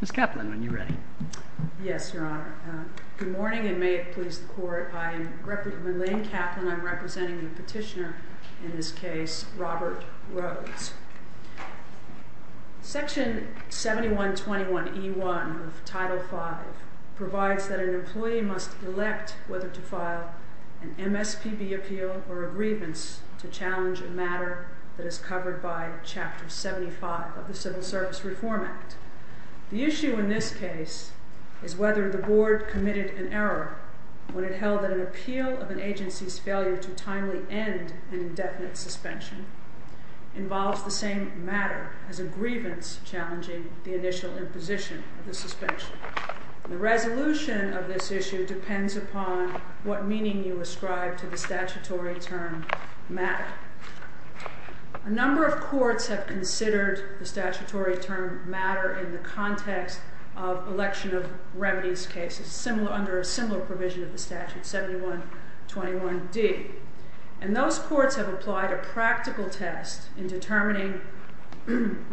Ms. Kaplan, when you ready? Yes, Your Honor. Good morning, and may it please the Court. I am Elaine Kaplan. I'm representing the petitioner in this case, Robert Rhodes. Section 7121E1 of Title V provides that an employee must elect whether to file an MSPB appeal or a grievance to challenge a matter that is covered by Chapter 75 of the Civil Service Reform Act. The issue in this case is whether the Board committed an error when it held that an appeal of an agency's failure to timely end an indefinite suspension involves the same matter as a grievance challenging the initial imposition of the suspension. The resolution of this issue depends upon what meaning you ascribe to the statutory term matter. A number of courts have considered the statutory term matter in the context of election of remedies cases under a similar provision of the Statute 7121D, and those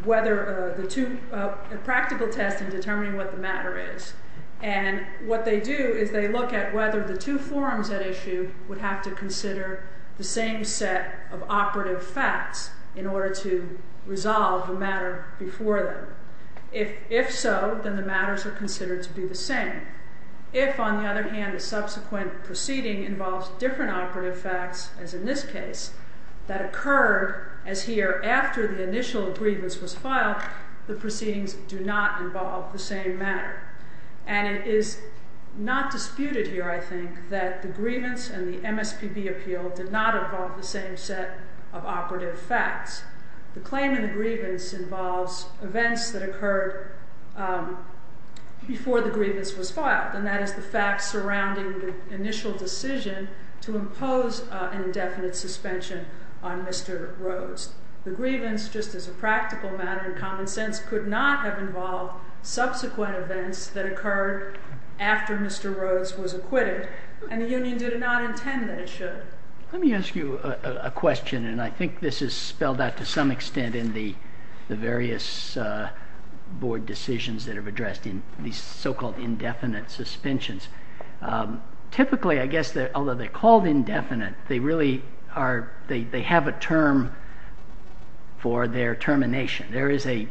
whether the two, a practical test in determining what the matter is, and what they do is they look at whether the two forums at issue would have to consider the same set of operative facts in order to resolve the matter before them. If so, then the matters are considered to be the same. If, on the other hand, the subsequent proceeding involves different operative facts, as in this case, that occurred as here after the initial grievance was filed, the proceedings do not involve the same matter. And it is not disputed here, I think, that the grievance and the MSPB appeal did not involve the same set of operative facts. The claim in the grievance involves events that occurred before the grievance was filed, and that is the fact surrounding the initial decision to impose an indefinite suspension on Mr. Rhodes. The grievance, just as a practical matter in common sense, could not have involved subsequent events that occurred after Mr. Rhodes was acquitted, and the Union did not intend that it should. Let me ask you a question, and I think this is spelled out to some extent in the various board decisions that have addressed these so-called indefinite suspensions. Typically, I guess, although they're called indefinite, they really are, they have a term for their termination. There is an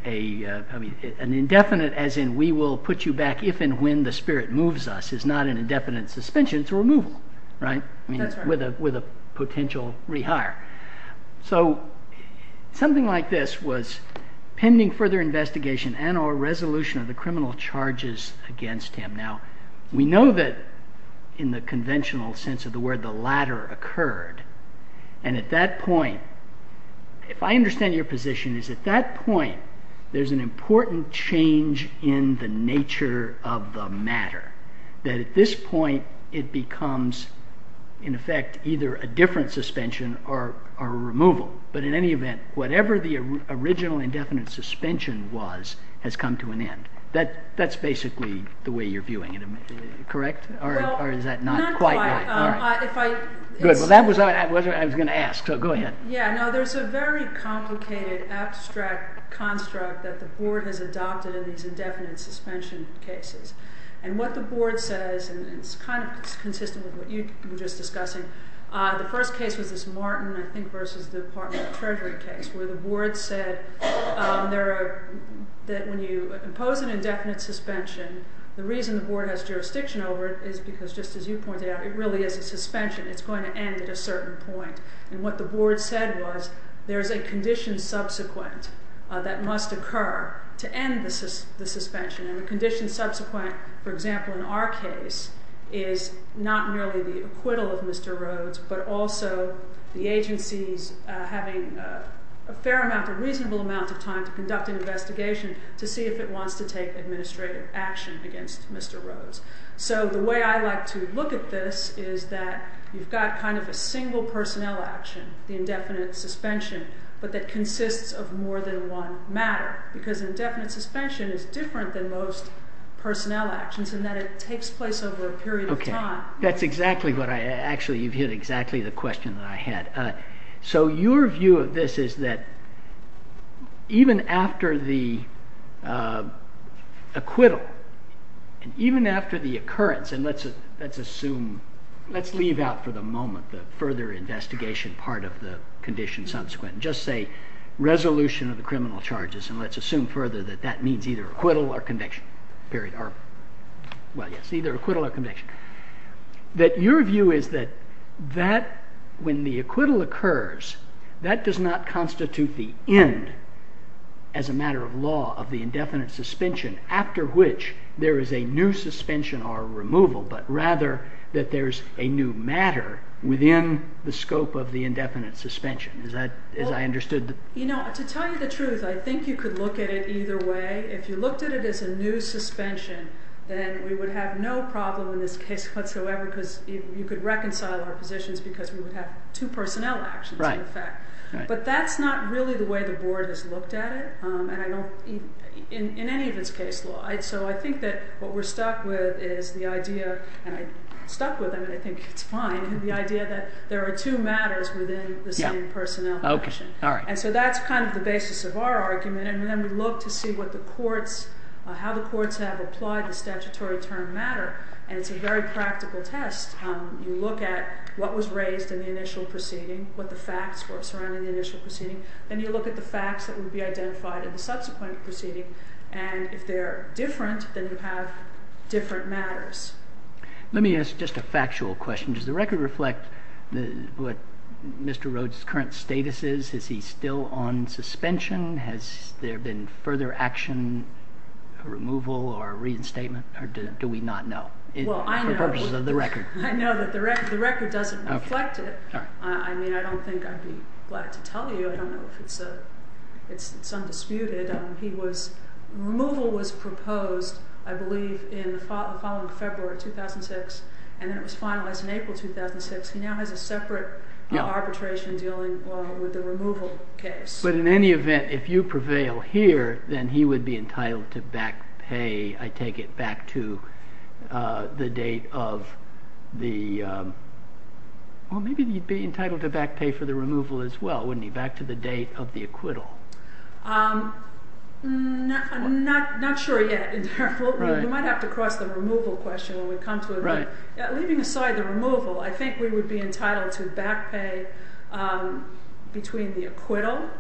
indefinite, as in we will put you back if and when the spirit moves us, is not an indefinite suspension, it's a removal, right? With a potential rehire. So something like this was pending further investigation and or resolution of the criminal charges against him. Now, we know that in the conventional sense of the word, the latter occurred, and at that point, if I understand your position, is at that point there's an important change in the nature of the matter, that at this point it becomes, in effect, either a different suspension or a removal, but in any event, whatever the original indefinite suspension was has come to an end. That's basically the way you're viewing it, correct? Or is that not quite right? Well, not quite. Good, well that was what I was going to ask, so go ahead. Yeah, no, there's a very complicated abstract construct that the board has adopted in these indefinite suspension cases, and what the board says, and it's kind of consistent with what you were just discussing, the first case was this Martin, I think, versus the Department of Treasury case, where the board said that when you impose an indefinite suspension, the reason the board has jurisdiction over it is because, just as you pointed out, it really is a suspension, it's going to end at a certain point, and what the board said was there's a condition subsequent that must occur to end the suspension, and the condition subsequent, for example, in our case, is not merely the acquittal of Mr. Rhodes, but also the agency's having a fair amount, a reasonable amount of time to conduct an investigation to see if it wants to take administrative action against Mr. Rhodes. So the way I like to look at this is that you've got kind of a single personnel action, the indefinite suspension, but that consists of more than one matter, because indefinite suspension is different than most personnel actions in that it takes place over a period of time. Okay, that's exactly what I, actually you've hit exactly the question that I had. So your view of this is that even after the acquittal, and even after the occurrence, and let's assume, let's leave out for the moment the further investigation part of the condition subsequent, just say resolution of the criminal charges, and let's assume further that that means either acquittal or conviction, period, or, well, yes, either acquittal or conviction, that your view is that that, when the acquittal occurs, that does not constitute the end, as a matter of law, of the indefinite suspension, after which there is a new suspension or removal, but rather that there's a new matter within the scope of the indefinite suspension. Well, you know, to tell you the truth, I think you could look at it either way. If you looked at it as a new suspension, then we would have no problem in this case whatsoever, because you could reconcile our positions because we would have two personnel actions in effect. But that's not really the way the Board has looked at it, and I don't, in any of its case law. So I think that what we're stuck with is the idea, and I'm stuck with it, and I think it's fine, the idea that there are two matters within the same personnel position. And so that's kind of the basis of our argument, and then we look to see what the courts, how the courts have applied the statutory term matter, and it's a very practical test. You look at what was raised in the initial proceeding, what the facts were surrounding the initial proceeding, then you look at the facts that would be identified in the subsequent proceeding, and if they're different, then you have different matters. Let me ask just a factual question. Does the record reflect what Mr. Rhodes' current status is? Is he still on suspension? Has there been further action, removal or reinstatement, or do we not know for purposes of the record? Well, I know that the record doesn't reflect it. I mean, I don't think I'd be glad to tell you. I don't know if it's undisputed. Removal was proposed, I believe, in the following February 2006, and then it was finalized in April 2006. He now has a separate arbitration dealing with the removal case. But in any event, if you prevail here, then he would be entitled to back pay, I take it, back to the date of the – well, maybe he'd be entitled to back pay for the removal as well, wouldn't he? Back to the date of the acquittal. I'm not sure yet. You might have to cross the removal question when we come to it. Leaving aside the removal, I think we would be entitled to back pay between the acquittal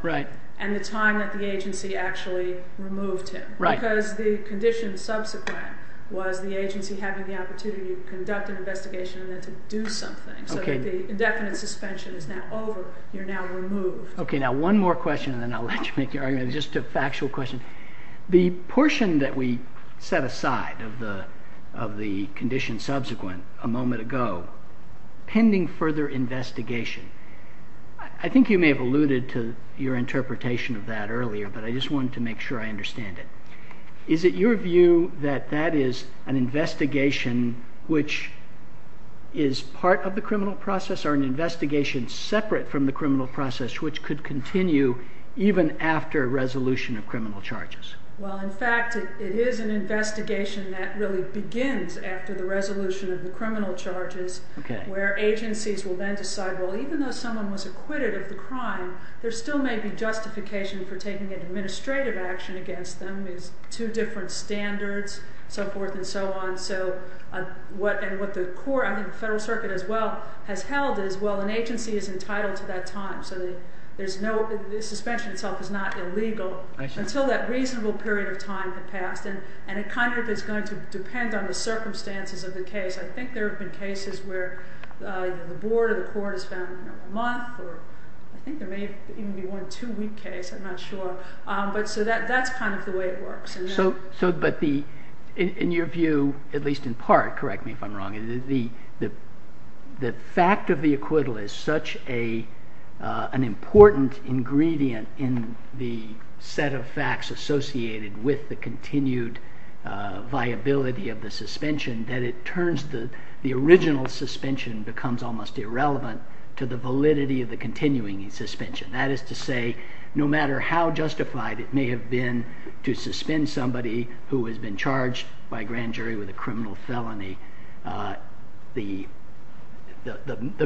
and the time that the agency actually removed him. Because the condition subsequent was the agency having the opportunity to conduct an investigation and then to do something. So that the indefinite suspension is now over. You're now removed. Okay, now one more question and then I'll let you make your argument. Just a factual question. The portion that we set aside of the condition subsequent a moment ago, pending further investigation, I think you may have alluded to your interpretation of that earlier, but I just wanted to make sure I understand it. Is it your view that that is an investigation which is part of the criminal process or an investigation separate from the criminal process which could continue even after resolution of criminal charges? Well, in fact, it is an investigation that really begins after the resolution of the criminal charges, where agencies will then decide, well, even though someone was acquitted of the crime, there still may be justification for taking an administrative action against them. There's two different standards, so forth and so on. And what the court, I think the Federal Circuit as well, has held is, well, an agency is entitled to that time. So the suspension itself is not illegal until that reasonable period of time had passed. And it kind of is going to depend on the circumstances of the case. I think there have been cases where the board or the court has found a month or I think there may even be one two-week case. I'm not sure. So that's kind of the way it works. But in your view, at least in part, correct me if I'm wrong, the fact of the acquittal is such an important ingredient in the set of facts associated with the continued viability of the suspension that it turns the original suspension becomes almost irrelevant to the validity of the continuing suspension. That is to say, no matter how justified it may have been to suspend somebody who has been charged by grand jury with a criminal felony, the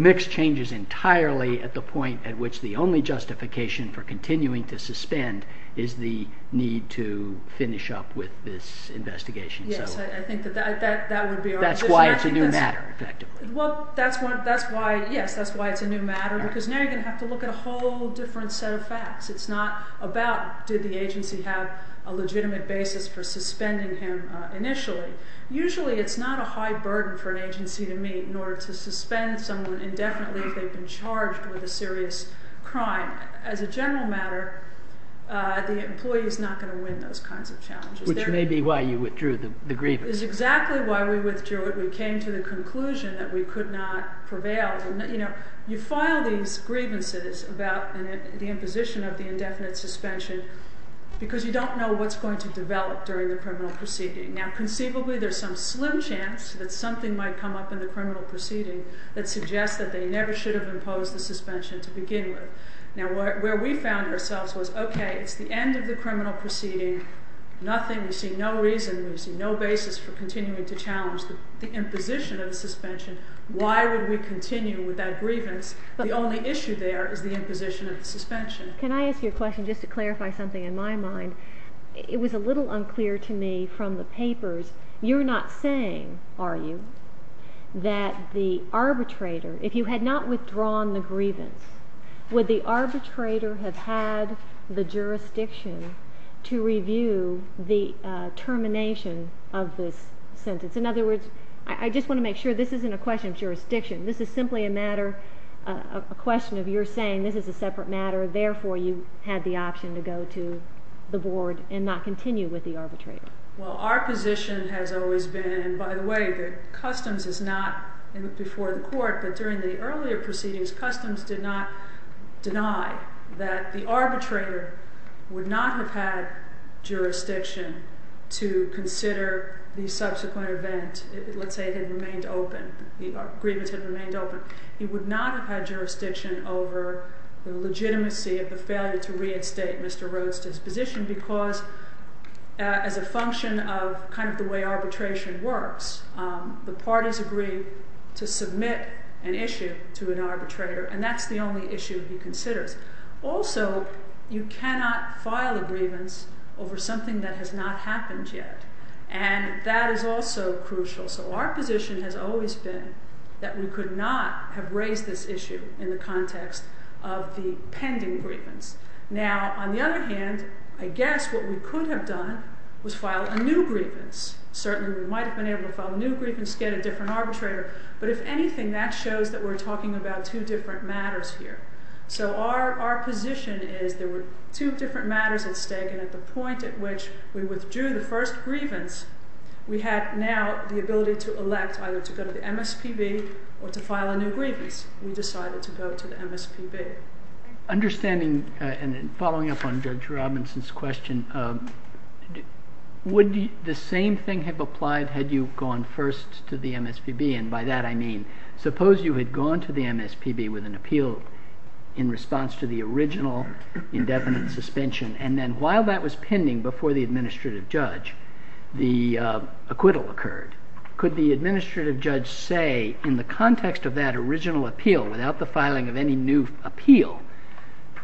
mix changes entirely at the point at which the only justification for continuing to suspend is the need to finish up with this investigation. Yes, I think that would be our... That's why it's a new matter, effectively. Well, that's why, yes, that's why it's a new matter because now you're going to have to look at a whole different set of facts. It's not about did the agency have a legitimate basis for suspending him initially. Usually it's not a high burden for an agency to meet in order to suspend someone indefinitely if they've been charged with a serious crime. As a general matter, the employee is not going to win those kinds of challenges. Which may be why you withdrew the grievance. Which is exactly why we withdrew it. We came to the conclusion that we could not prevail. You file these grievances about the imposition of the indefinite suspension because you don't know what's going to develop during the criminal proceeding. Now, conceivably there's some slim chance that something might come up in the criminal proceeding that suggests that they never should have imposed the suspension to begin with. Now, where we found ourselves was, okay, it's the end of the criminal proceeding, nothing, we see no reason, we see no basis for continuing to challenge the imposition of the suspension. Why would we continue with that grievance? The only issue there is the imposition of the suspension. Can I ask you a question just to clarify something in my mind? It was a little unclear to me from the papers. You're not saying, are you, that the arbitrator, if you had not withdrawn the grievance, would the arbitrator have had the jurisdiction to review the termination of this sentence? In other words, I just want to make sure this isn't a question of jurisdiction. This is simply a matter, a question of you're saying this is a separate matter, therefore you had the option to go to the board and not continue with the arbitrator. Well, our position has always been, and by the way, that customs is not before the court, but during the earlier proceedings, customs did not deny that the arbitrator would not have had jurisdiction to consider the subsequent event, let's say it had remained open, the grievance had remained open. He would not have had jurisdiction over the legitimacy of the failure to reinstate Mr. Rhodes' disposition because as a function of kind of the way arbitration works, the parties agree to submit an issue to an arbitrator, and that's the only issue he considers. Also, you cannot file a grievance over something that has not happened yet, and that is also crucial. So our position has always been that we could not have raised this issue in the context of the pending grievance. Now, on the other hand, I guess what we could have done was file a new grievance. Certainly we might have been able to file a new grievance, get a different arbitrator, but if anything, that shows that we're talking about two different matters here. So our position is there were two different matters at stake, and at the point at which we withdrew the first grievance, we had now the ability to elect either to go to the MSPB or to file a new grievance. We decided to go to the MSPB. Understanding and following up on Judge Robinson's question, would the same thing have applied had you gone first to the MSPB? And by that I mean suppose you had gone to the MSPB with an appeal in response to the original indefinite suspension, and then while that was pending before the administrative judge, the acquittal occurred. Could the administrative judge say in the context of that original appeal, without the filing of any new appeal,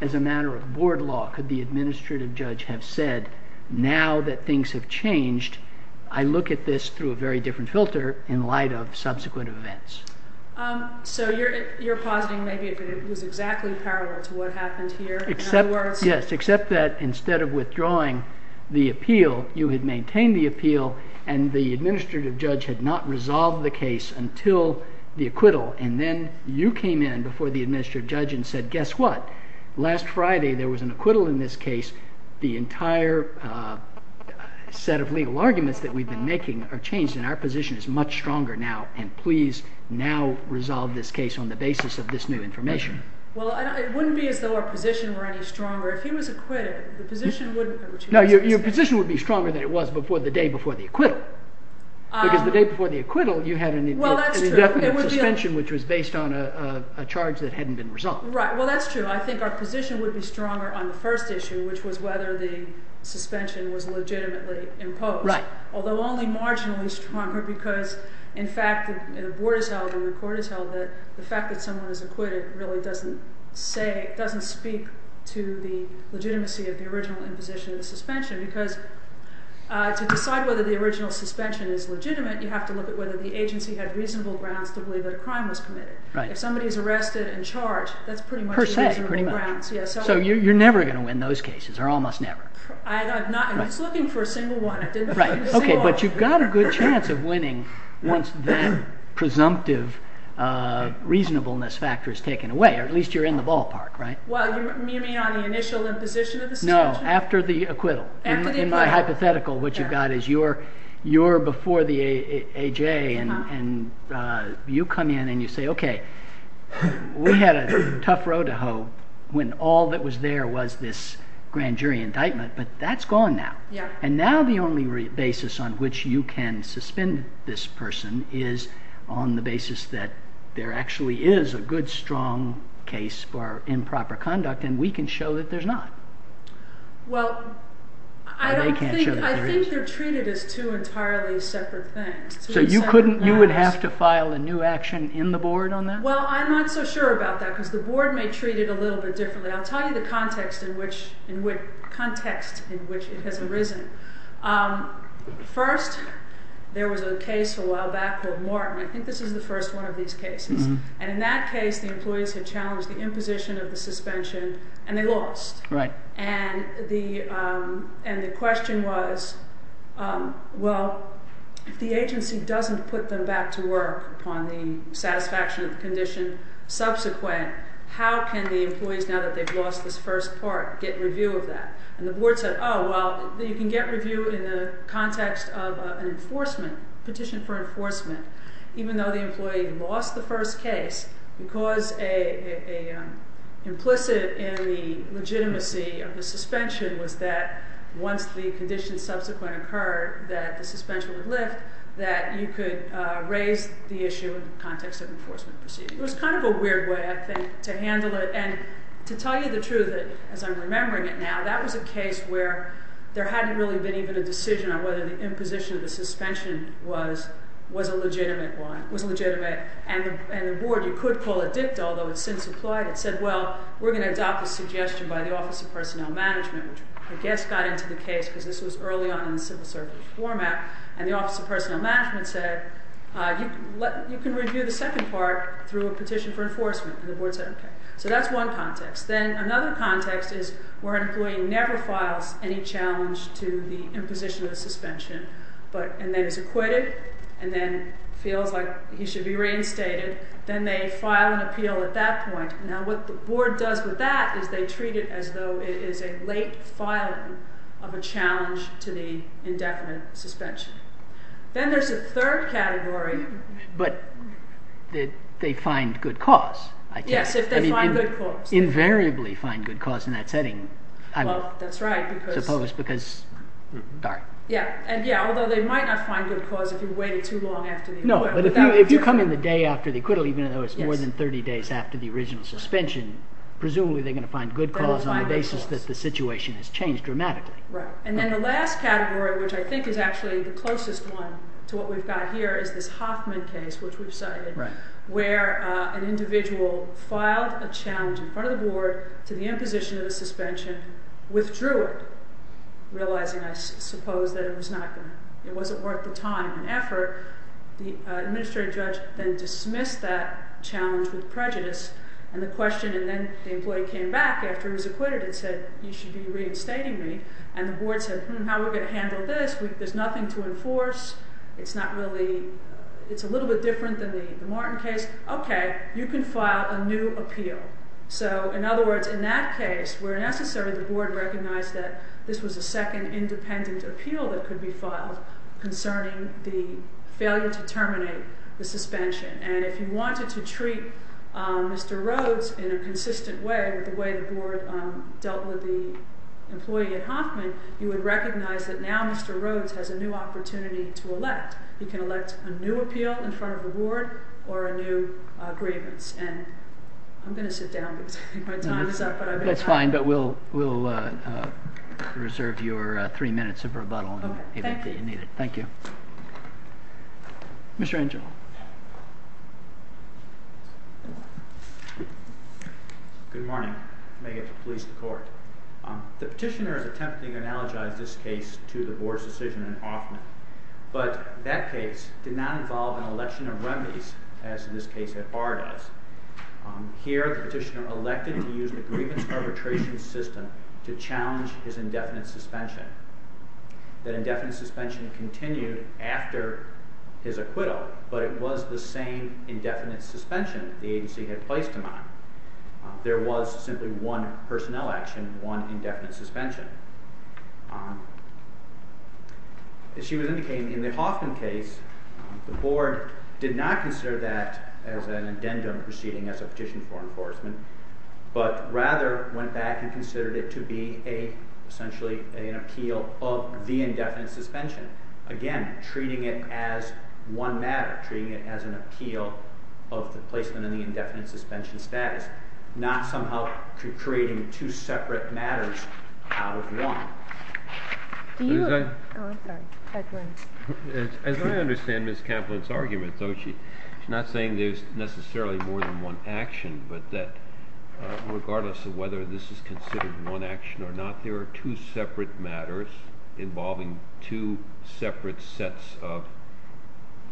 as a matter of board law, could the administrative judge have said, now that things have changed, I look at this through a very different filter in light of subsequent events? So you're positing maybe it was exactly parallel to what happened here? Yes, except that instead of withdrawing the appeal, you had maintained the appeal, and the administrative judge had not resolved the case until the acquittal, and then you came in before the administrative judge and said, guess what? Last Friday there was an acquittal in this case. The entire set of legal arguments that we've been making are changed, and our position is much stronger now, and please now resolve this case on the basis of this new information. Well, it wouldn't be as though our position were any stronger. If he was acquitted, the position wouldn't have changed. No, your position would be stronger than it was the day before the acquittal, because the day before the acquittal you had an indefinite suspension which was based on a charge that hadn't been resolved. Right, well, that's true. I think our position would be stronger on the first issue, which was whether the suspension was legitimately imposed, although only marginally stronger because, in fact, the board has held and the court has held that the fact that someone is acquitted really doesn't speak to the legitimacy of the original imposition of the suspension, because to decide whether the original suspension is legitimate, you have to look at whether the agency had reasonable grounds to believe that a crime was committed. If somebody is arrested and charged, that's pretty much reasonable grounds. Per se, pretty much. So you're never going to win those cases, or almost never. I'm just looking for a single one. Okay, but you've got a good chance of winning once that presumptive reasonableness factor is taken away, or at least you're in the ballpark, right? Well, you mean on the initial imposition of the suspension? No, after the acquittal. After the acquittal. In my hypothetical, what you've got is you're before the A.J. and you come in and you say, okay, we had a tough road to hoe when all that was there was this grand jury indictment, but that's gone now. And now the only basis on which you can suspend this person is on the basis that there actually is a good, strong case for improper conduct, and we can show that there's not. Well, I think they're treated as two entirely separate things. So you would have to file a new action in the board on that? Well, I'm not so sure about that, because the board may treat it a little bit differently. I'll tell you the context in which it has arisen. First, there was a case a while back called Morton. I think this is the first one of these cases. And in that case, the employees had challenged the imposition of the suspension, and they lost. Right. And the question was, well, if the agency doesn't put them back to work upon the satisfaction of the condition, subsequent, how can the employees, now that they've lost this first part, get review of that? And the board said, oh, well, you can get review in the context of an enforcement, petition for enforcement. Even though the employee lost the first case, because implicit in the legitimacy of the suspension was that once the condition subsequent occurred, that the suspension would lift, that you could raise the issue in the context of enforcement proceedings. It was kind of a weird way, I think, to handle it. And to tell you the truth, as I'm remembering it now, that was a case where there hadn't really been even a decision on whether the imposition of the suspension was a legitimate one, was legitimate. And the board, you could call it dict, although it's since applied, it said, well, we're going to adopt a suggestion by the Office of Personnel Management, which I guess got into the case, because this was early on in the civil service format. And the Office of Personnel Management said, you can review the second part through a petition for enforcement. And the board said, okay. So that's one context. Then another context is where an employee never files any challenge to the imposition of the suspension, and then is acquitted, and then feels like he should be reinstated. Then they file an appeal at that point. Now, what the board does with that is they treat it as though it is a late filing of a challenge to the indefinite suspension. Then there's a third category. But they find good cause, I guess. Yes, if they find good cause. Invariably find good cause in that setting, I would suppose, because, darn. Yeah, although they might not find good cause if you wait too long after the acquittal. No, but if you come in the day after the acquittal, even though it's more than 30 days after the original suspension, presumably they're going to find good cause on the basis that the situation has changed dramatically. Right. And then the last category, which I think is actually the closest one to what we've got here, is this Hoffman case, which we've cited, where an individual filed a challenge in front of the board to the imposition of a suspension, withdrew it, realizing, I suppose, that it wasn't worth the time and effort. The administrative judge then dismissed that challenge with prejudice. And the question, and then the employee came back after he was acquitted and said, you should be reinstating me. And the board said, hmm, how are we going to handle this? There's nothing to enforce. It's a little bit different than the Martin case. OK, you can file a new appeal. So, in other words, in that case, where necessary, the board recognized that this was a second independent appeal that could be filed concerning the failure to terminate the suspension. And if you wanted to treat Mr. Rhodes in a consistent way with the way the board dealt with the employee at Hoffman, you would recognize that now Mr. Rhodes has a new opportunity to elect. He can elect a new appeal in front of the board or a new grievance. And I'm going to sit down because I think my time is up. That's fine, but we'll reserve your three minutes of rebuttal. OK, thank you. Thank you. Mr. Angel. Good morning. May it please the court. The petitioner is attempting to analogize this case to the board's decision in Hoffman. But that case did not involve an election of remedies, as in this case at Barr does. Here, the petitioner elected to use the grievance arbitration system to challenge his indefinite suspension. That indefinite suspension continued after his acquittal, but it was the same indefinite suspension the agency had placed him on. There was simply one personnel action, one indefinite suspension. As she was indicating, in the Hoffman case, the board did not consider that as an addendum proceeding as a petition for enforcement, but rather went back and considered it to be essentially an appeal of the indefinite suspension. Again, treating it as one matter, treating it as an appeal of the placement in the indefinite suspension status, and not somehow creating two separate matters out of one. As I understand Ms. Kaplan's argument, though, she's not saying there's necessarily more than one action, but that regardless of whether this is considered one action or not, there are two separate matters involving two separate sets of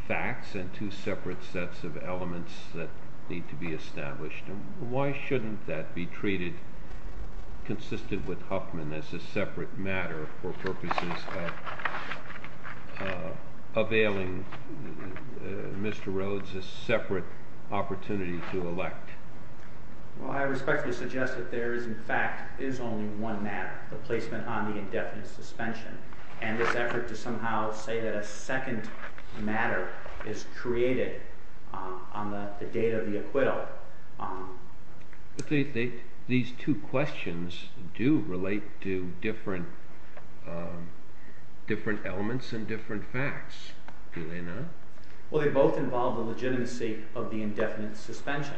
facts and two separate sets of elements that need to be established. Why shouldn't that be treated, consistent with Hoffman, as a separate matter for purposes of availing Mr. Rhodes a separate opportunity to elect? Well, I respectfully suggest that there is, in fact, is only one matter, the placement on the indefinite suspension, and this effort to somehow say that a second matter is created on the date of the acquittal. These two questions do relate to different elements and different facts, do they not? Well, they both involve the legitimacy of the indefinite suspension.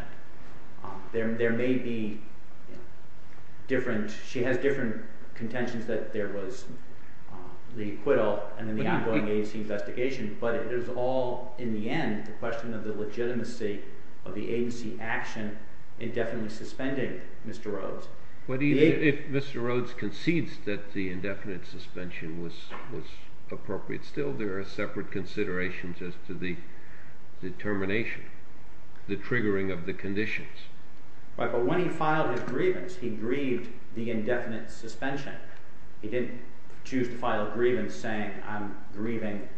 She has different contentions that there was the acquittal and then the ongoing agency investigation, but it is all, in the end, the question of the legitimacy of the agency action indefinitely suspending Mr. Rhodes. But even if Mr. Rhodes concedes that the indefinite suspension was appropriate, still there are separate considerations as to the determination, the triggering of the conditions. Right, but when he filed his grievance, he grieved the indefinite suspension. He didn't choose to file a grievance saying I'm grieving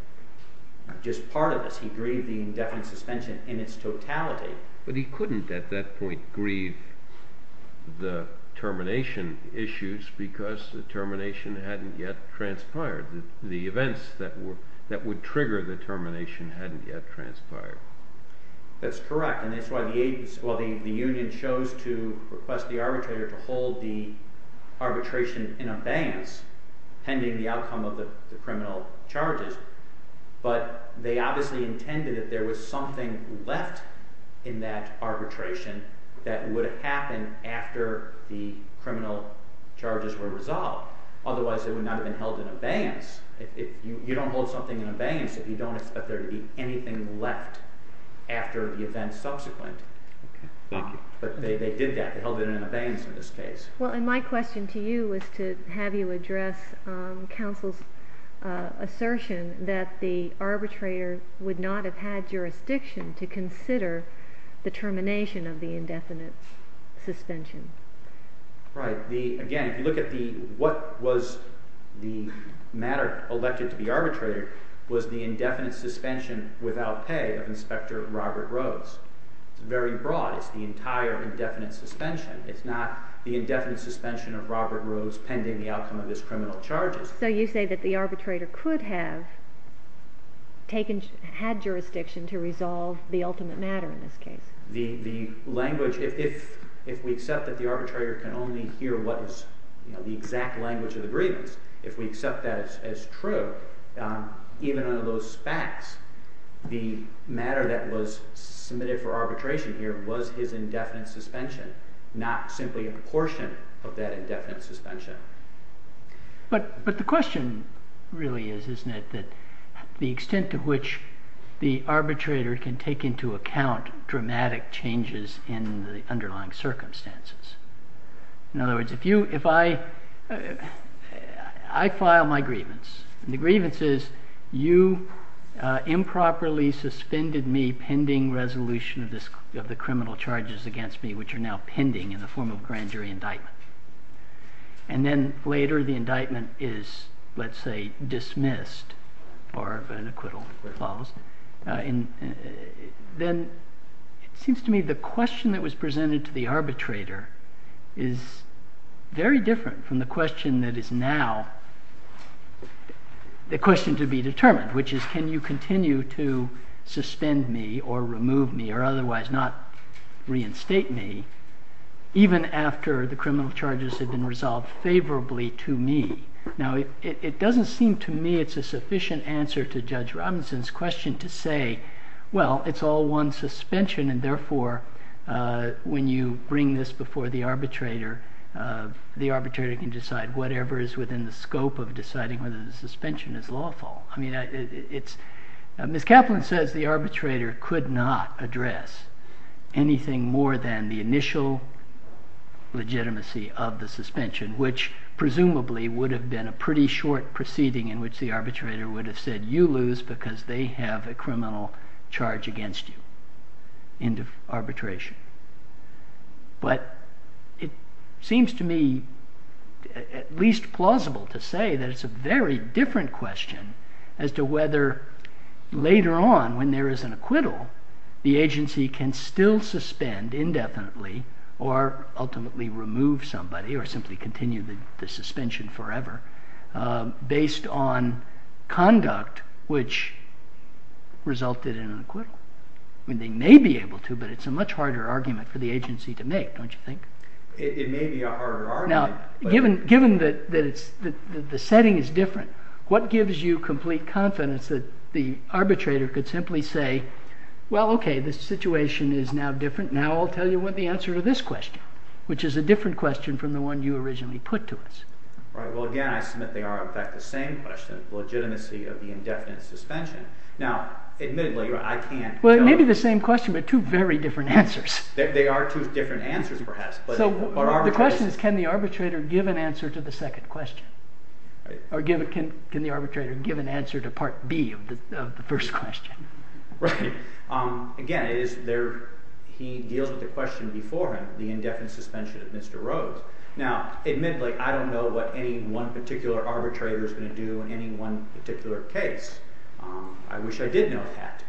just part of this. He grieved the indefinite suspension in its totality. But he couldn't at that point grieve the termination issues because the termination hadn't yet transpired. The events that would trigger the termination hadn't yet transpired. That's correct, and that's why the union chose to request the arbitrator to hold the arbitration in advance, pending the outcome of the criminal charges, but they obviously intended that there was something left in that arbitration that would happen after the criminal charges were resolved. Otherwise, it would not have been held in abeyance. You don't hold something in abeyance if you don't expect there to be anything left after the events subsequent. Okay, thank you. But they did that. They held it in abeyance in this case. Well, and my question to you is to have you address counsel's assertion that the arbitrator would not have had jurisdiction to consider the termination of the indefinite suspension. Right. Again, if you look at what was the matter elected to the arbitrator was the indefinite suspension without pay of Inspector Robert Rhodes. It's very broad. It's the entire indefinite suspension. It's not the indefinite suspension of Robert Rhodes pending the outcome of his criminal charges. So you say that the arbitrator could have taken, had jurisdiction to resolve the ultimate matter in this case. The language, if we accept that the arbitrator can only hear what is the exact language of the grievance, if we accept that as true, even under those facts, the matter that was submitted for arbitration here was his indefinite suspension, not simply a portion of that indefinite suspension. But the question really is, isn't it, that the extent to which the arbitrator can take into account dramatic changes in the underlying circumstances. In other words, if I file my grievance and the grievance is you improperly suspended me pending resolution of the criminal charges against me, which are now pending in the form of grand jury indictment. And then later the indictment is, let's say, dismissed or an acquittal that follows. Then it seems to me the question that was presented to the arbitrator is very different from the question that is now the question to be determined, which is can you continue to suspend me or remove me or otherwise not reinstate me even after the criminal charges have been resolved favorably to me. Now, it doesn't seem to me it's a sufficient answer to judge Robinson's question to say, well, it's all one suspension. And therefore, when you bring this before the arbitrator, the arbitrator can decide whatever is within the scope of deciding whether the suspension is lawful. I mean, Ms. Kaplan says the arbitrator could not address anything more than the initial legitimacy of the suspension, which presumably would have been a pretty short proceeding in which the arbitrator would have said you lose because they have a criminal charge against you in arbitration. But it seems to me at least plausible to say that it's a very different question as to whether later on when there is an acquittal, the agency can still suspend indefinitely or ultimately remove somebody or simply continue the suspension forever based on conduct which resulted in an acquittal. I mean, they may be able to, but it's a much harder argument for the agency to make, don't you think? It may be a harder argument. Now, given that the setting is different, what gives you complete confidence that the arbitrator could simply say, well, OK, this situation is now different. Now I'll tell you what the answer to this question, which is a different question from the one you originally put to us. Right. Well, again, I submit they are, in fact, the same question, the legitimacy of the indefinite suspension. Now, admittedly, I can't tell you. Well, it may be the same question, but two very different answers. They are two different answers, perhaps. So the question is, can the arbitrator give an answer to the second question? Or can the arbitrator give an answer to Part B of the first question? Right. Again, he deals with the question beforehand, the indefinite suspension of Mr. Rhodes. Now, admittedly, I don't know what any one particular arbitrator is going to do in any one particular case. I wish I did know that.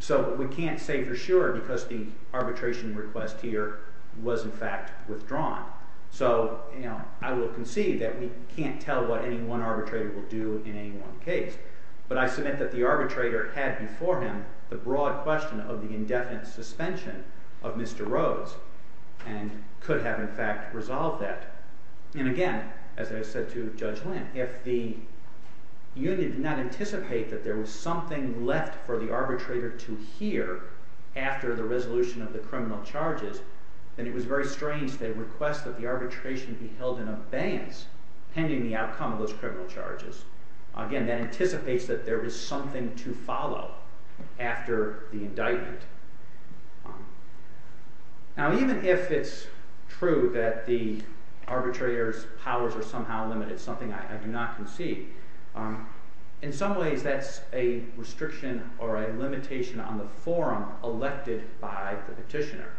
So we can't say for sure because the arbitration request here was, in fact, withdrawn. So I will concede that we can't tell what any one arbitrator will do in any one case. But I submit that the arbitrator had before him the broad question of the indefinite suspension of Mr. Rhodes and could have, in fact, resolved that. And again, as I said to Judge Lynn, if the unit did not anticipate that there was something left for the arbitrator to hear after the resolution of the criminal charges, then it was very strange to request that the arbitration be held in abeyance pending the outcome of those criminal charges. Again, that anticipates that there was something to follow after the indictment. Now, even if it's true that the arbitrator's powers are somehow limited, something I do not concede, in some ways that's a restriction or a limitation on the forum elected by the petitioner.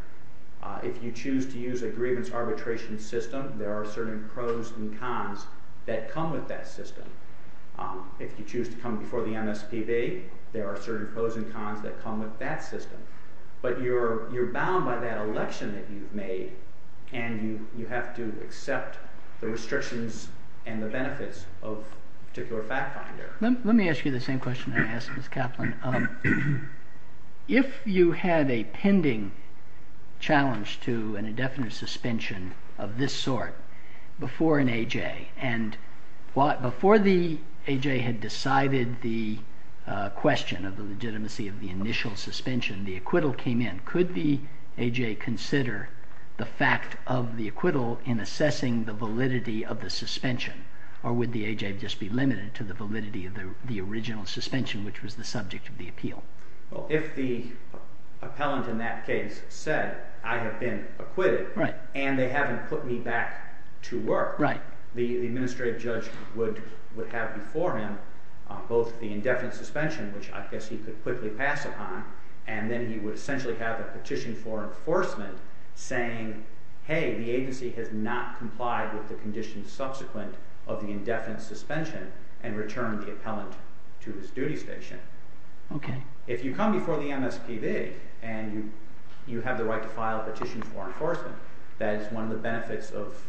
If you choose to use a grievance arbitration system, there are certain pros and cons that come with that system. If you choose to come before the MSPB, there are certain pros and cons that come with that system. But you're bound by that election that you've made, and you have to accept the restrictions and the benefits of a particular fact finder. Let me ask you the same question I asked Ms. Kaplan. If you had a pending challenge to an indefinite suspension of this sort before an AJ, and before the AJ had decided the question of the legitimacy of the initial suspension, the acquittal came in, could the AJ consider the fact of the acquittal in assessing the validity of the suspension? Or would the AJ just be limited to the validity of the original suspension, which was the subject of the appeal? Well, if the appellant in that case said, I have been acquitted, and they haven't put me back to work, the administrative judge would have before him both the indefinite suspension, which I guess he could quickly pass upon, and then he would essentially have a petition for enforcement saying, hey, the agency has not complied with the conditions subsequent of the indefinite suspension, and returned the appellant to his duty station. If you come before the MSPB, and you have the right to file a petition for enforcement, that is one of the benefits of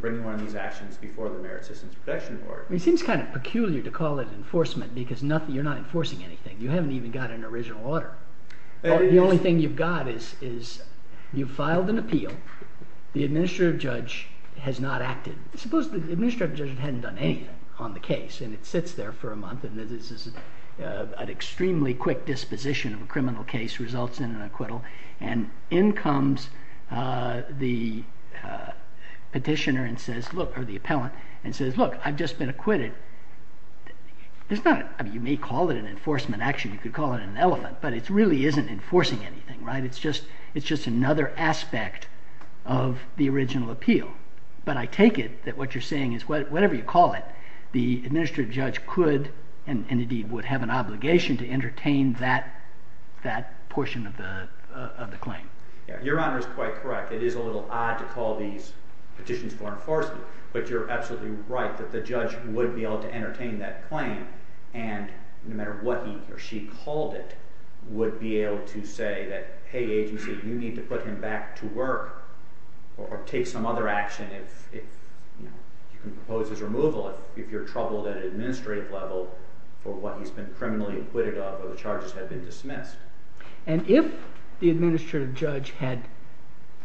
bringing one of these actions before the Merit Systems Protection Board. It seems kind of peculiar to call it enforcement, because you're not enforcing anything. You haven't even got an original order. The only thing you've got is you've filed an appeal. The administrative judge has not acted. Suppose the administrative judge hadn't done anything on the case, and it sits there for a month, and an extremely quick disposition of a criminal case results in an acquittal, and in comes the petitioner or the appellant and says, look, I've just been acquitted. You may call it an enforcement action. You could call it an elephant, but it really isn't enforcing anything. It's just another aspect of the original appeal. But I take it that what you're saying is whatever you call it, the administrative judge could and indeed would have an obligation to entertain that portion of the claim. Your Honor is quite correct. It is a little odd to call these petitions for enforcement, but you're absolutely right that the judge would be able to entertain that claim, and no matter what he or she called it, would be able to say that, hey, agency, you need to put him back to work or take some other action. You can propose his removal if you're troubled at an administrative level for what he's been criminally acquitted of or the charges have been dismissed. And if the administrative judge had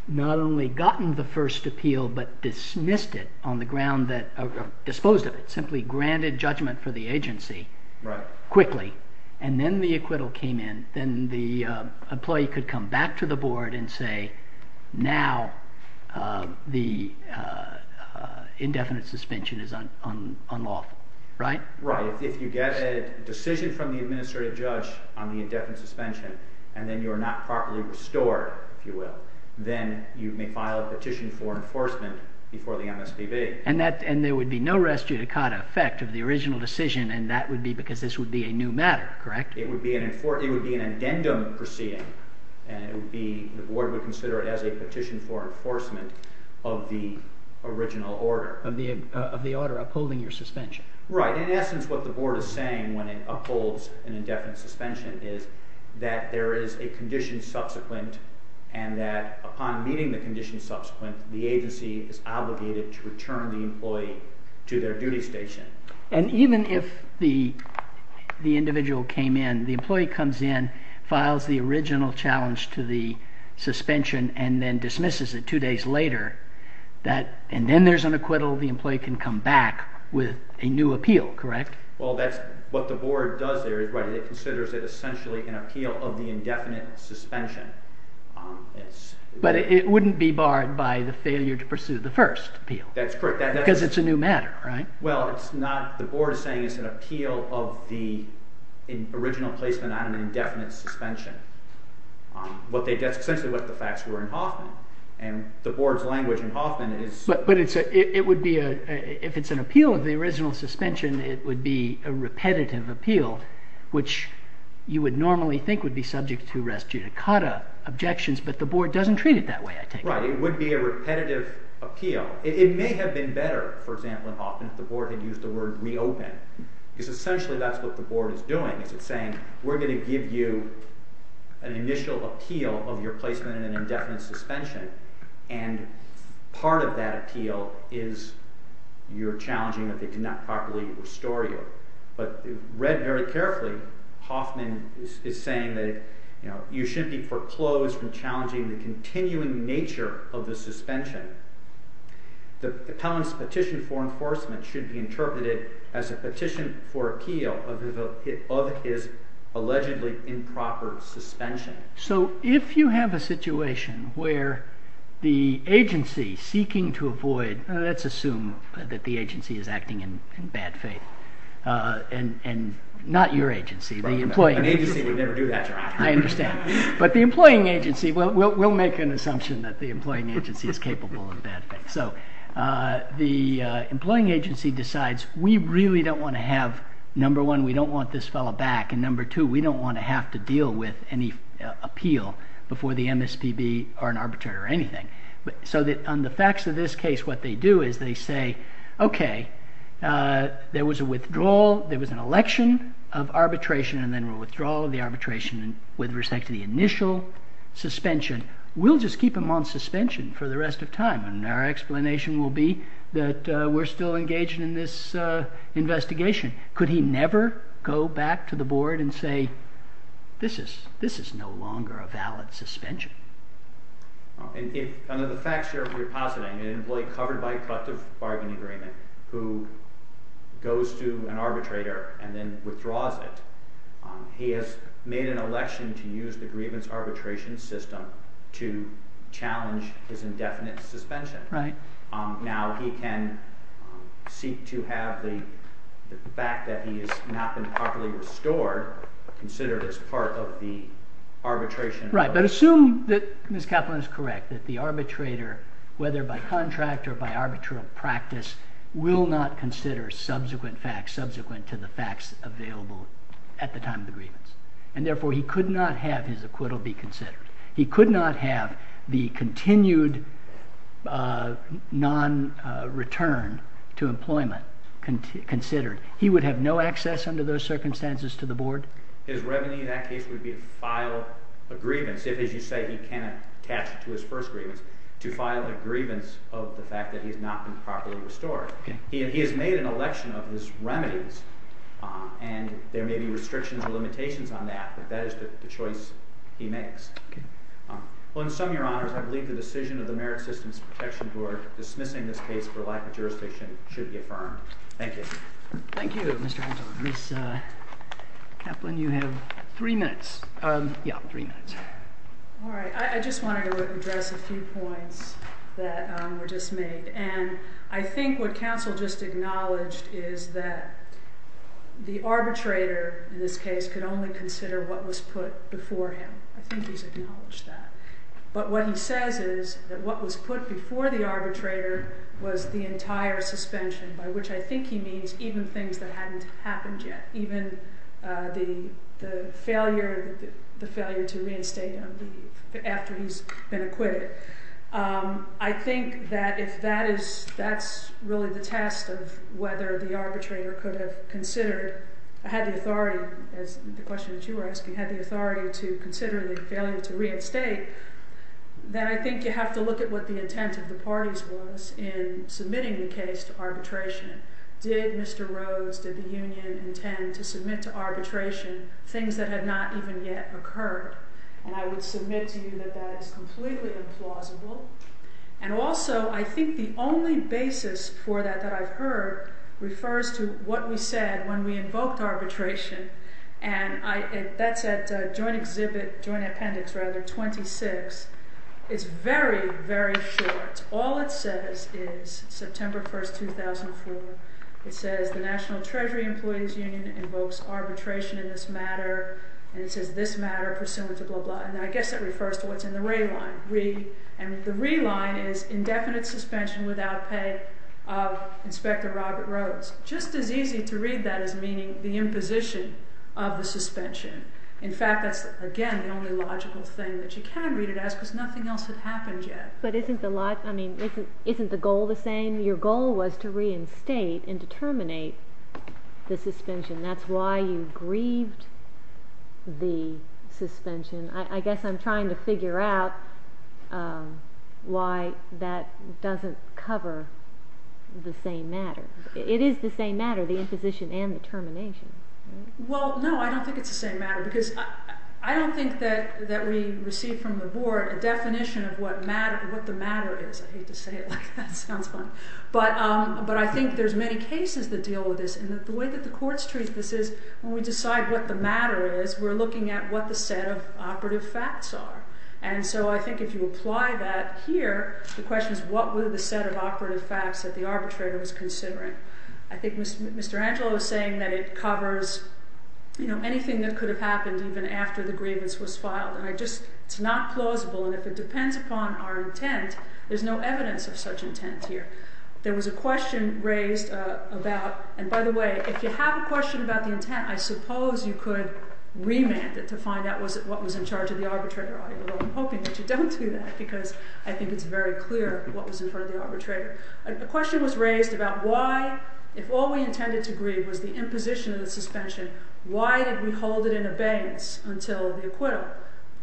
not only gotten the first appeal but dismissed it on the ground that – disposed of it, simply granted judgment for the agency quickly, and then the acquittal came in, then the employee could come back to the board and say, now the indefinite suspension is unlawful. Right? Right. If you get a decision from the administrative judge on the indefinite suspension and then you are not properly restored, if you will, then you may file a petition for enforcement before the MSPB. And there would be no res judicata effect of the original decision, and that would be because this would be a new matter, correct? It would be an addendum proceeding, and the board would consider it as a petition for enforcement of the original order. Of the order upholding your suspension. Right. In essence, what the board is saying when it upholds an indefinite suspension is that there is a condition subsequent and that upon meeting the condition subsequent, the agency is obligated to return the employee to their duty station. And even if the individual came in, the employee comes in, files the original challenge to the suspension, and then dismisses it two days later, and then there's an acquittal, the employee can come back with a new appeal, correct? Well, that's what the board does there. It considers it essentially an appeal of the indefinite suspension. But it wouldn't be barred by the failure to pursue the first appeal. That's correct. Because it's a new matter, right? Well, the board is saying it's an appeal of the original placement on an indefinite suspension. That's essentially what the facts were in Hoffman, and the board's language in Hoffman is... But if it's an appeal of the original suspension, it would be a repetitive appeal, which you would normally think would be subject to res judicata objections, but the board doesn't treat it that way, I take it. Right. It would be a repetitive appeal. It may have been better, for example, in Hoffman if the board had used the word reopen. Because essentially that's what the board is doing. It's saying, we're going to give you an initial appeal of your placement in an indefinite suspension, and part of that appeal is you're challenging that they did not properly restore you. But read very carefully, Hoffman is saying that you shouldn't be foreclosed from challenging the continuing nature of the suspension. The petition for enforcement should be interpreted as a petition for appeal of his allegedly improper suspension. So if you have a situation where the agency seeking to avoid... Let's assume that the agency is acting in bad faith. And not your agency, the employing agency. An agency would never do that. I understand. But the employing agency... We'll make an assumption that the employing agency is capable of bad faith. So the employing agency decides, we really don't want to have... before the MSPB or an arbitrator or anything. So on the facts of this case, what they do is they say, okay, there was a withdrawal, there was an election of arbitration, and then a withdrawal of the arbitration with respect to the initial suspension. We'll just keep him on suspension for the rest of time, and our explanation will be that we're still engaged in this investigation. Could he never go back to the board and say, this is no longer a valid suspension? Under the facts you're repositing, an employee covered by a cut of bargaining agreement who goes to an arbitrator and then withdraws it, he has made an election to use the grievance arbitration system to challenge his indefinite suspension. Now he can seek to have the fact that he has not been properly restored considered as part of the arbitration. Right, but assume that Ms. Kaplan is correct, that the arbitrator, whether by contract or by arbitral practice, will not consider subsequent facts subsequent to the facts available at the time of the grievance. And therefore, he could not have his acquittal be considered. He could not have the continued non-return to employment considered. He would have no access under those circumstances to the board? His revenue in that case would be to file a grievance, if, as you say, he can't attach it to his first grievance, to file a grievance of the fact that he has not been properly restored. He has made an election of his remedies, and there may be restrictions or limitations on that, but that is the choice he makes. Well, in sum, Your Honors, I believe the decision of the Merit Systems Protection Board dismissing this case for lack of jurisdiction should be affirmed. Thank you. Thank you, Mr. Anton. Ms. Kaplan, you have three minutes. Yeah, three minutes. All right. I just wanted to address a few points that were just made, and I think what counsel just acknowledged is that the arbitrator, in this case, could only consider what was put before him. I think he's acknowledged that. But what he says is that what was put before the arbitrator was the entire suspension, by which I think he means even things that hadn't happened yet, even the failure to reinstate him after he's been acquitted. I think that if that is really the test of whether the arbitrator could have considered or had the authority, as the question that you were asking, had the authority to consider the failure to reinstate, then I think you have to look at what the intent of the parties was in submitting the case to arbitration. Did Mr. Rhodes, did the union intend to submit to arbitration things that had not even yet occurred? And I would submit to you that that is completely implausible. And also, I think the only basis for that that I've heard refers to what we said when we invoked arbitration, and that's at Joint Appendix 26. It's very, very short. All it says is, September 1, 2004, it says the National Treasury Employees Union invokes arbitration in this matter, and it says this matter pursuant to blah, blah, blah. And I guess it refers to what's in the re-line. And the re-line is indefinite suspension without pay of Inspector Robert Rhodes. Just as easy to read that as meaning the imposition of the suspension. In fact, that's, again, the only logical thing that you can read it as because nothing else had happened yet. But isn't the goal the same? Your goal was to reinstate and to terminate the suspension. That's why you grieved the suspension. I guess I'm trying to figure out why that doesn't cover the same matter. It is the same matter, the imposition and the termination. Well, no, I don't think it's the same matter because I don't think that we received from the board a definition of what the matter is. I hate to say it like that. It sounds funny. But I think there's many cases that deal with this, and the way that the courts treat this is when we decide what the matter is, we're looking at what the set of operative facts are. And so I think if you apply that here, the question is what were the set of operative facts that the arbitrator was considering. I think Mr. Angelo was saying that it covers anything that could have happened even after the grievance was filed. It's not plausible, and if it depends upon our intent, there's no evidence of such intent here. There was a question raised about, and by the way, if you have a question about the intent, I suppose you could remand it to find out what was in charge of the arbitrator. Although I'm hoping that you don't do that because I think it's very clear what was in front of the arbitrator. A question was raised about why, if all we intended to grieve was the imposition of the suspension, why did we hold it in abeyance until the acquittal?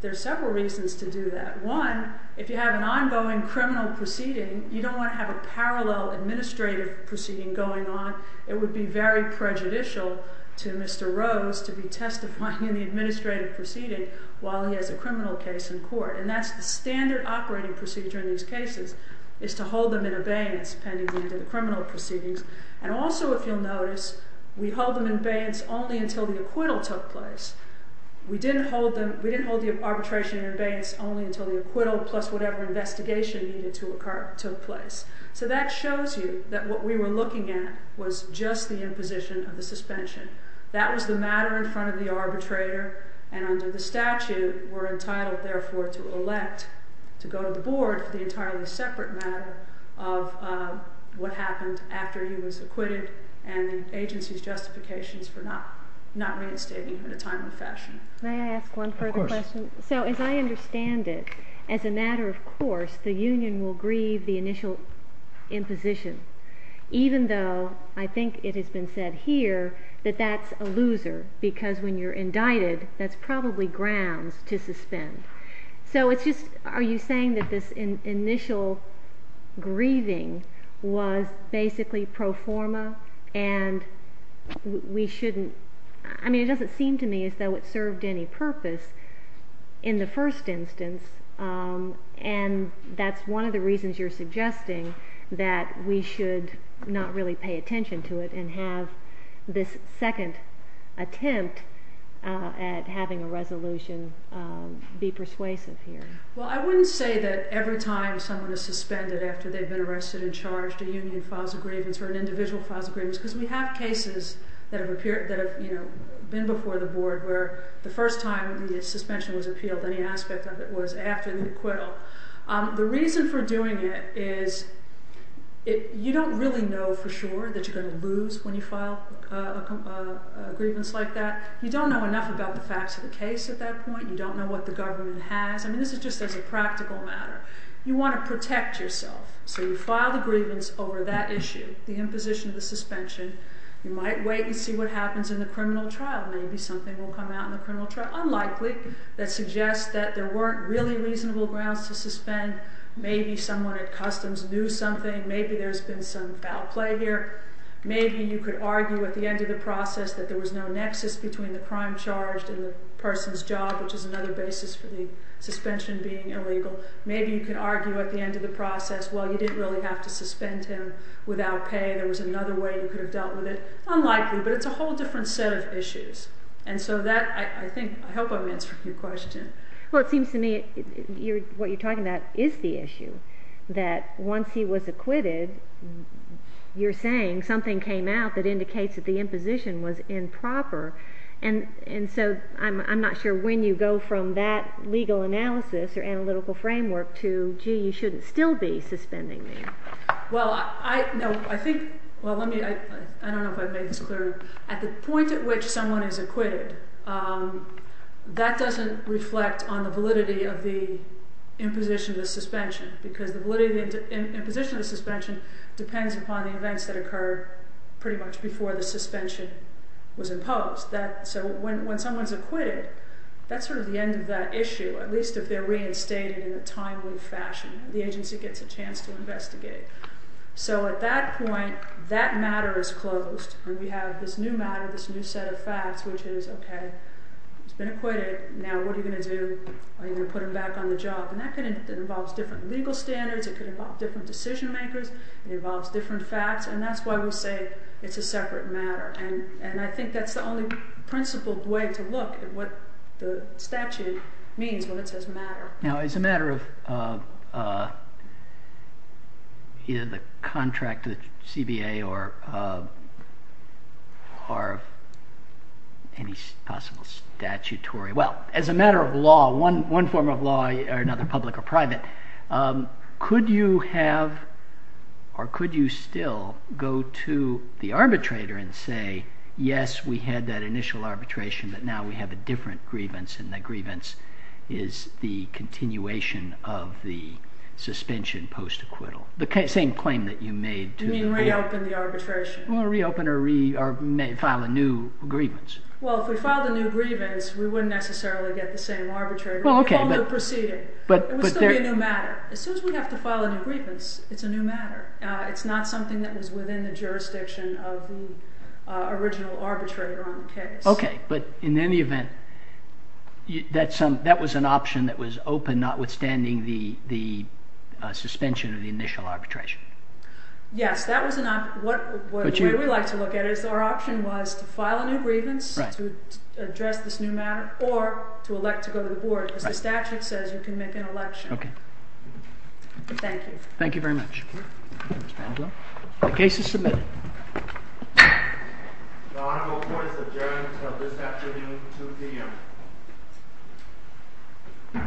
There are several reasons to do that. One, if you have an ongoing criminal proceeding, you don't want to have a parallel administrative proceeding going on. It would be very prejudicial to Mr. Rose to be testifying in the administrative proceeding while he has a criminal case in court, and that's the standard operating procedure in these cases, is to hold them in abeyance pending the end of the criminal proceedings. And also, if you'll notice, we hold them in abeyance only until the acquittal took place. We didn't hold the arbitration in abeyance only until the acquittal plus whatever investigation needed to occur took place. So that shows you that what we were looking at was just the imposition of the suspension. That was the matter in front of the arbitrator, and under the statute we're entitled, therefore, to elect, to go to the board for the entirely separate matter of what happened after he was acquitted and the agency's justifications for not reinstating him in a timely fashion. May I ask one further question? Of course. So as I understand it, as a matter of course, the union will grieve the initial imposition, even though I think it has been said here that that's a loser because when you're indicted that's probably grounds to suspend. So it's just, are you saying that this initial grieving was basically pro forma and we shouldn't... I mean, it doesn't seem to me as though it served any purpose in the first instance, and that's one of the reasons you're suggesting that we should not really pay attention to it and have this second attempt at having a resolution be persuasive here. Well, I wouldn't say that every time someone is suspended after they've been arrested and charged, a union files a grievance or an individual files a grievance because we have cases that have been before the board where the first time the suspension was appealed, any aspect of it was after the acquittal. The reason for doing it is you don't really know for sure that you're going to lose when you file a grievance like that. You don't know enough about the facts of the case at that point. You don't know what the government has. I mean, this is just as a practical matter. You want to protect yourself, so you file the grievance over that issue, the imposition of the suspension. You might wait and see what happens in the criminal trial. Maybe something will come out in the criminal trial, unlikely, that suggests that there weren't really reasonable grounds to suspend. Maybe someone at customs knew something. Maybe there's been some foul play here. Maybe you could argue at the end of the process that there was no nexus between the crime charged and the person's job, which is another basis for the suspension being illegal. Maybe you could argue at the end of the process, well, you didn't really have to suspend him without pay. There was another way you could have dealt with it. Unlikely, but it's a whole different set of issues. And so that, I think, I hope I've answered your question. Well, it seems to me, what you're talking about is the issue, that once he was acquitted, you're saying something came out that indicates that the imposition was improper. And so I'm not sure when you go from that legal analysis or analytical framework to, gee, you shouldn't still be suspending me. Well, I think, well, let me, I don't know if I've made this clear. At the point at which someone is acquitted, that doesn't reflect on the validity of the imposition of the suspension, because the validity of the imposition of the suspension depends upon the events that occur pretty much before the suspension was imposed. So when someone's acquitted, that's sort of the end of that issue, at least if they're reinstated in a timely fashion and the agency gets a chance to investigate. So at that point, that matter is closed and we have this new matter, this new set of facts, which is, okay, he's been acquitted, now what are you going to do? Are you going to put him back on the job? And that involves different legal standards, it could involve different decision makers, it involves different facts, and that's why we'll say it's a separate matter. And I think that's the only principled way to look at what the statute means when it says matter. Now, as a matter of either the contract to the CBA or any possible statutory... Well, as a matter of law, one form of law, another public or private, could you have or could you still go to the arbitrator and say, yes, we had that initial arbitration, but now we have a different grievance and that grievance is the continuation of the suspension post-acquittal. The same claim that you made... You mean reopen the arbitration? Well, reopen or file a new grievance. Well, if we filed a new grievance, we wouldn't necessarily get the same arbitrator. Well, okay, but... It would still be a new matter. As soon as we have to file a new grievance, it's a new matter. It's not something that was within the jurisdiction of the original arbitrator on the case. Okay, but in any event, that was an option that was open notwithstanding the suspension of the initial arbitration. Yes, that was an option. The way we like to look at it is our option was to file a new grievance to address this new matter or to elect to go to the board. As the statute says, you can make an election. Okay. Thank you. Thank you very much. The case is submitted. The Honorable Court is adjourned until this afternoon, 2 p.m.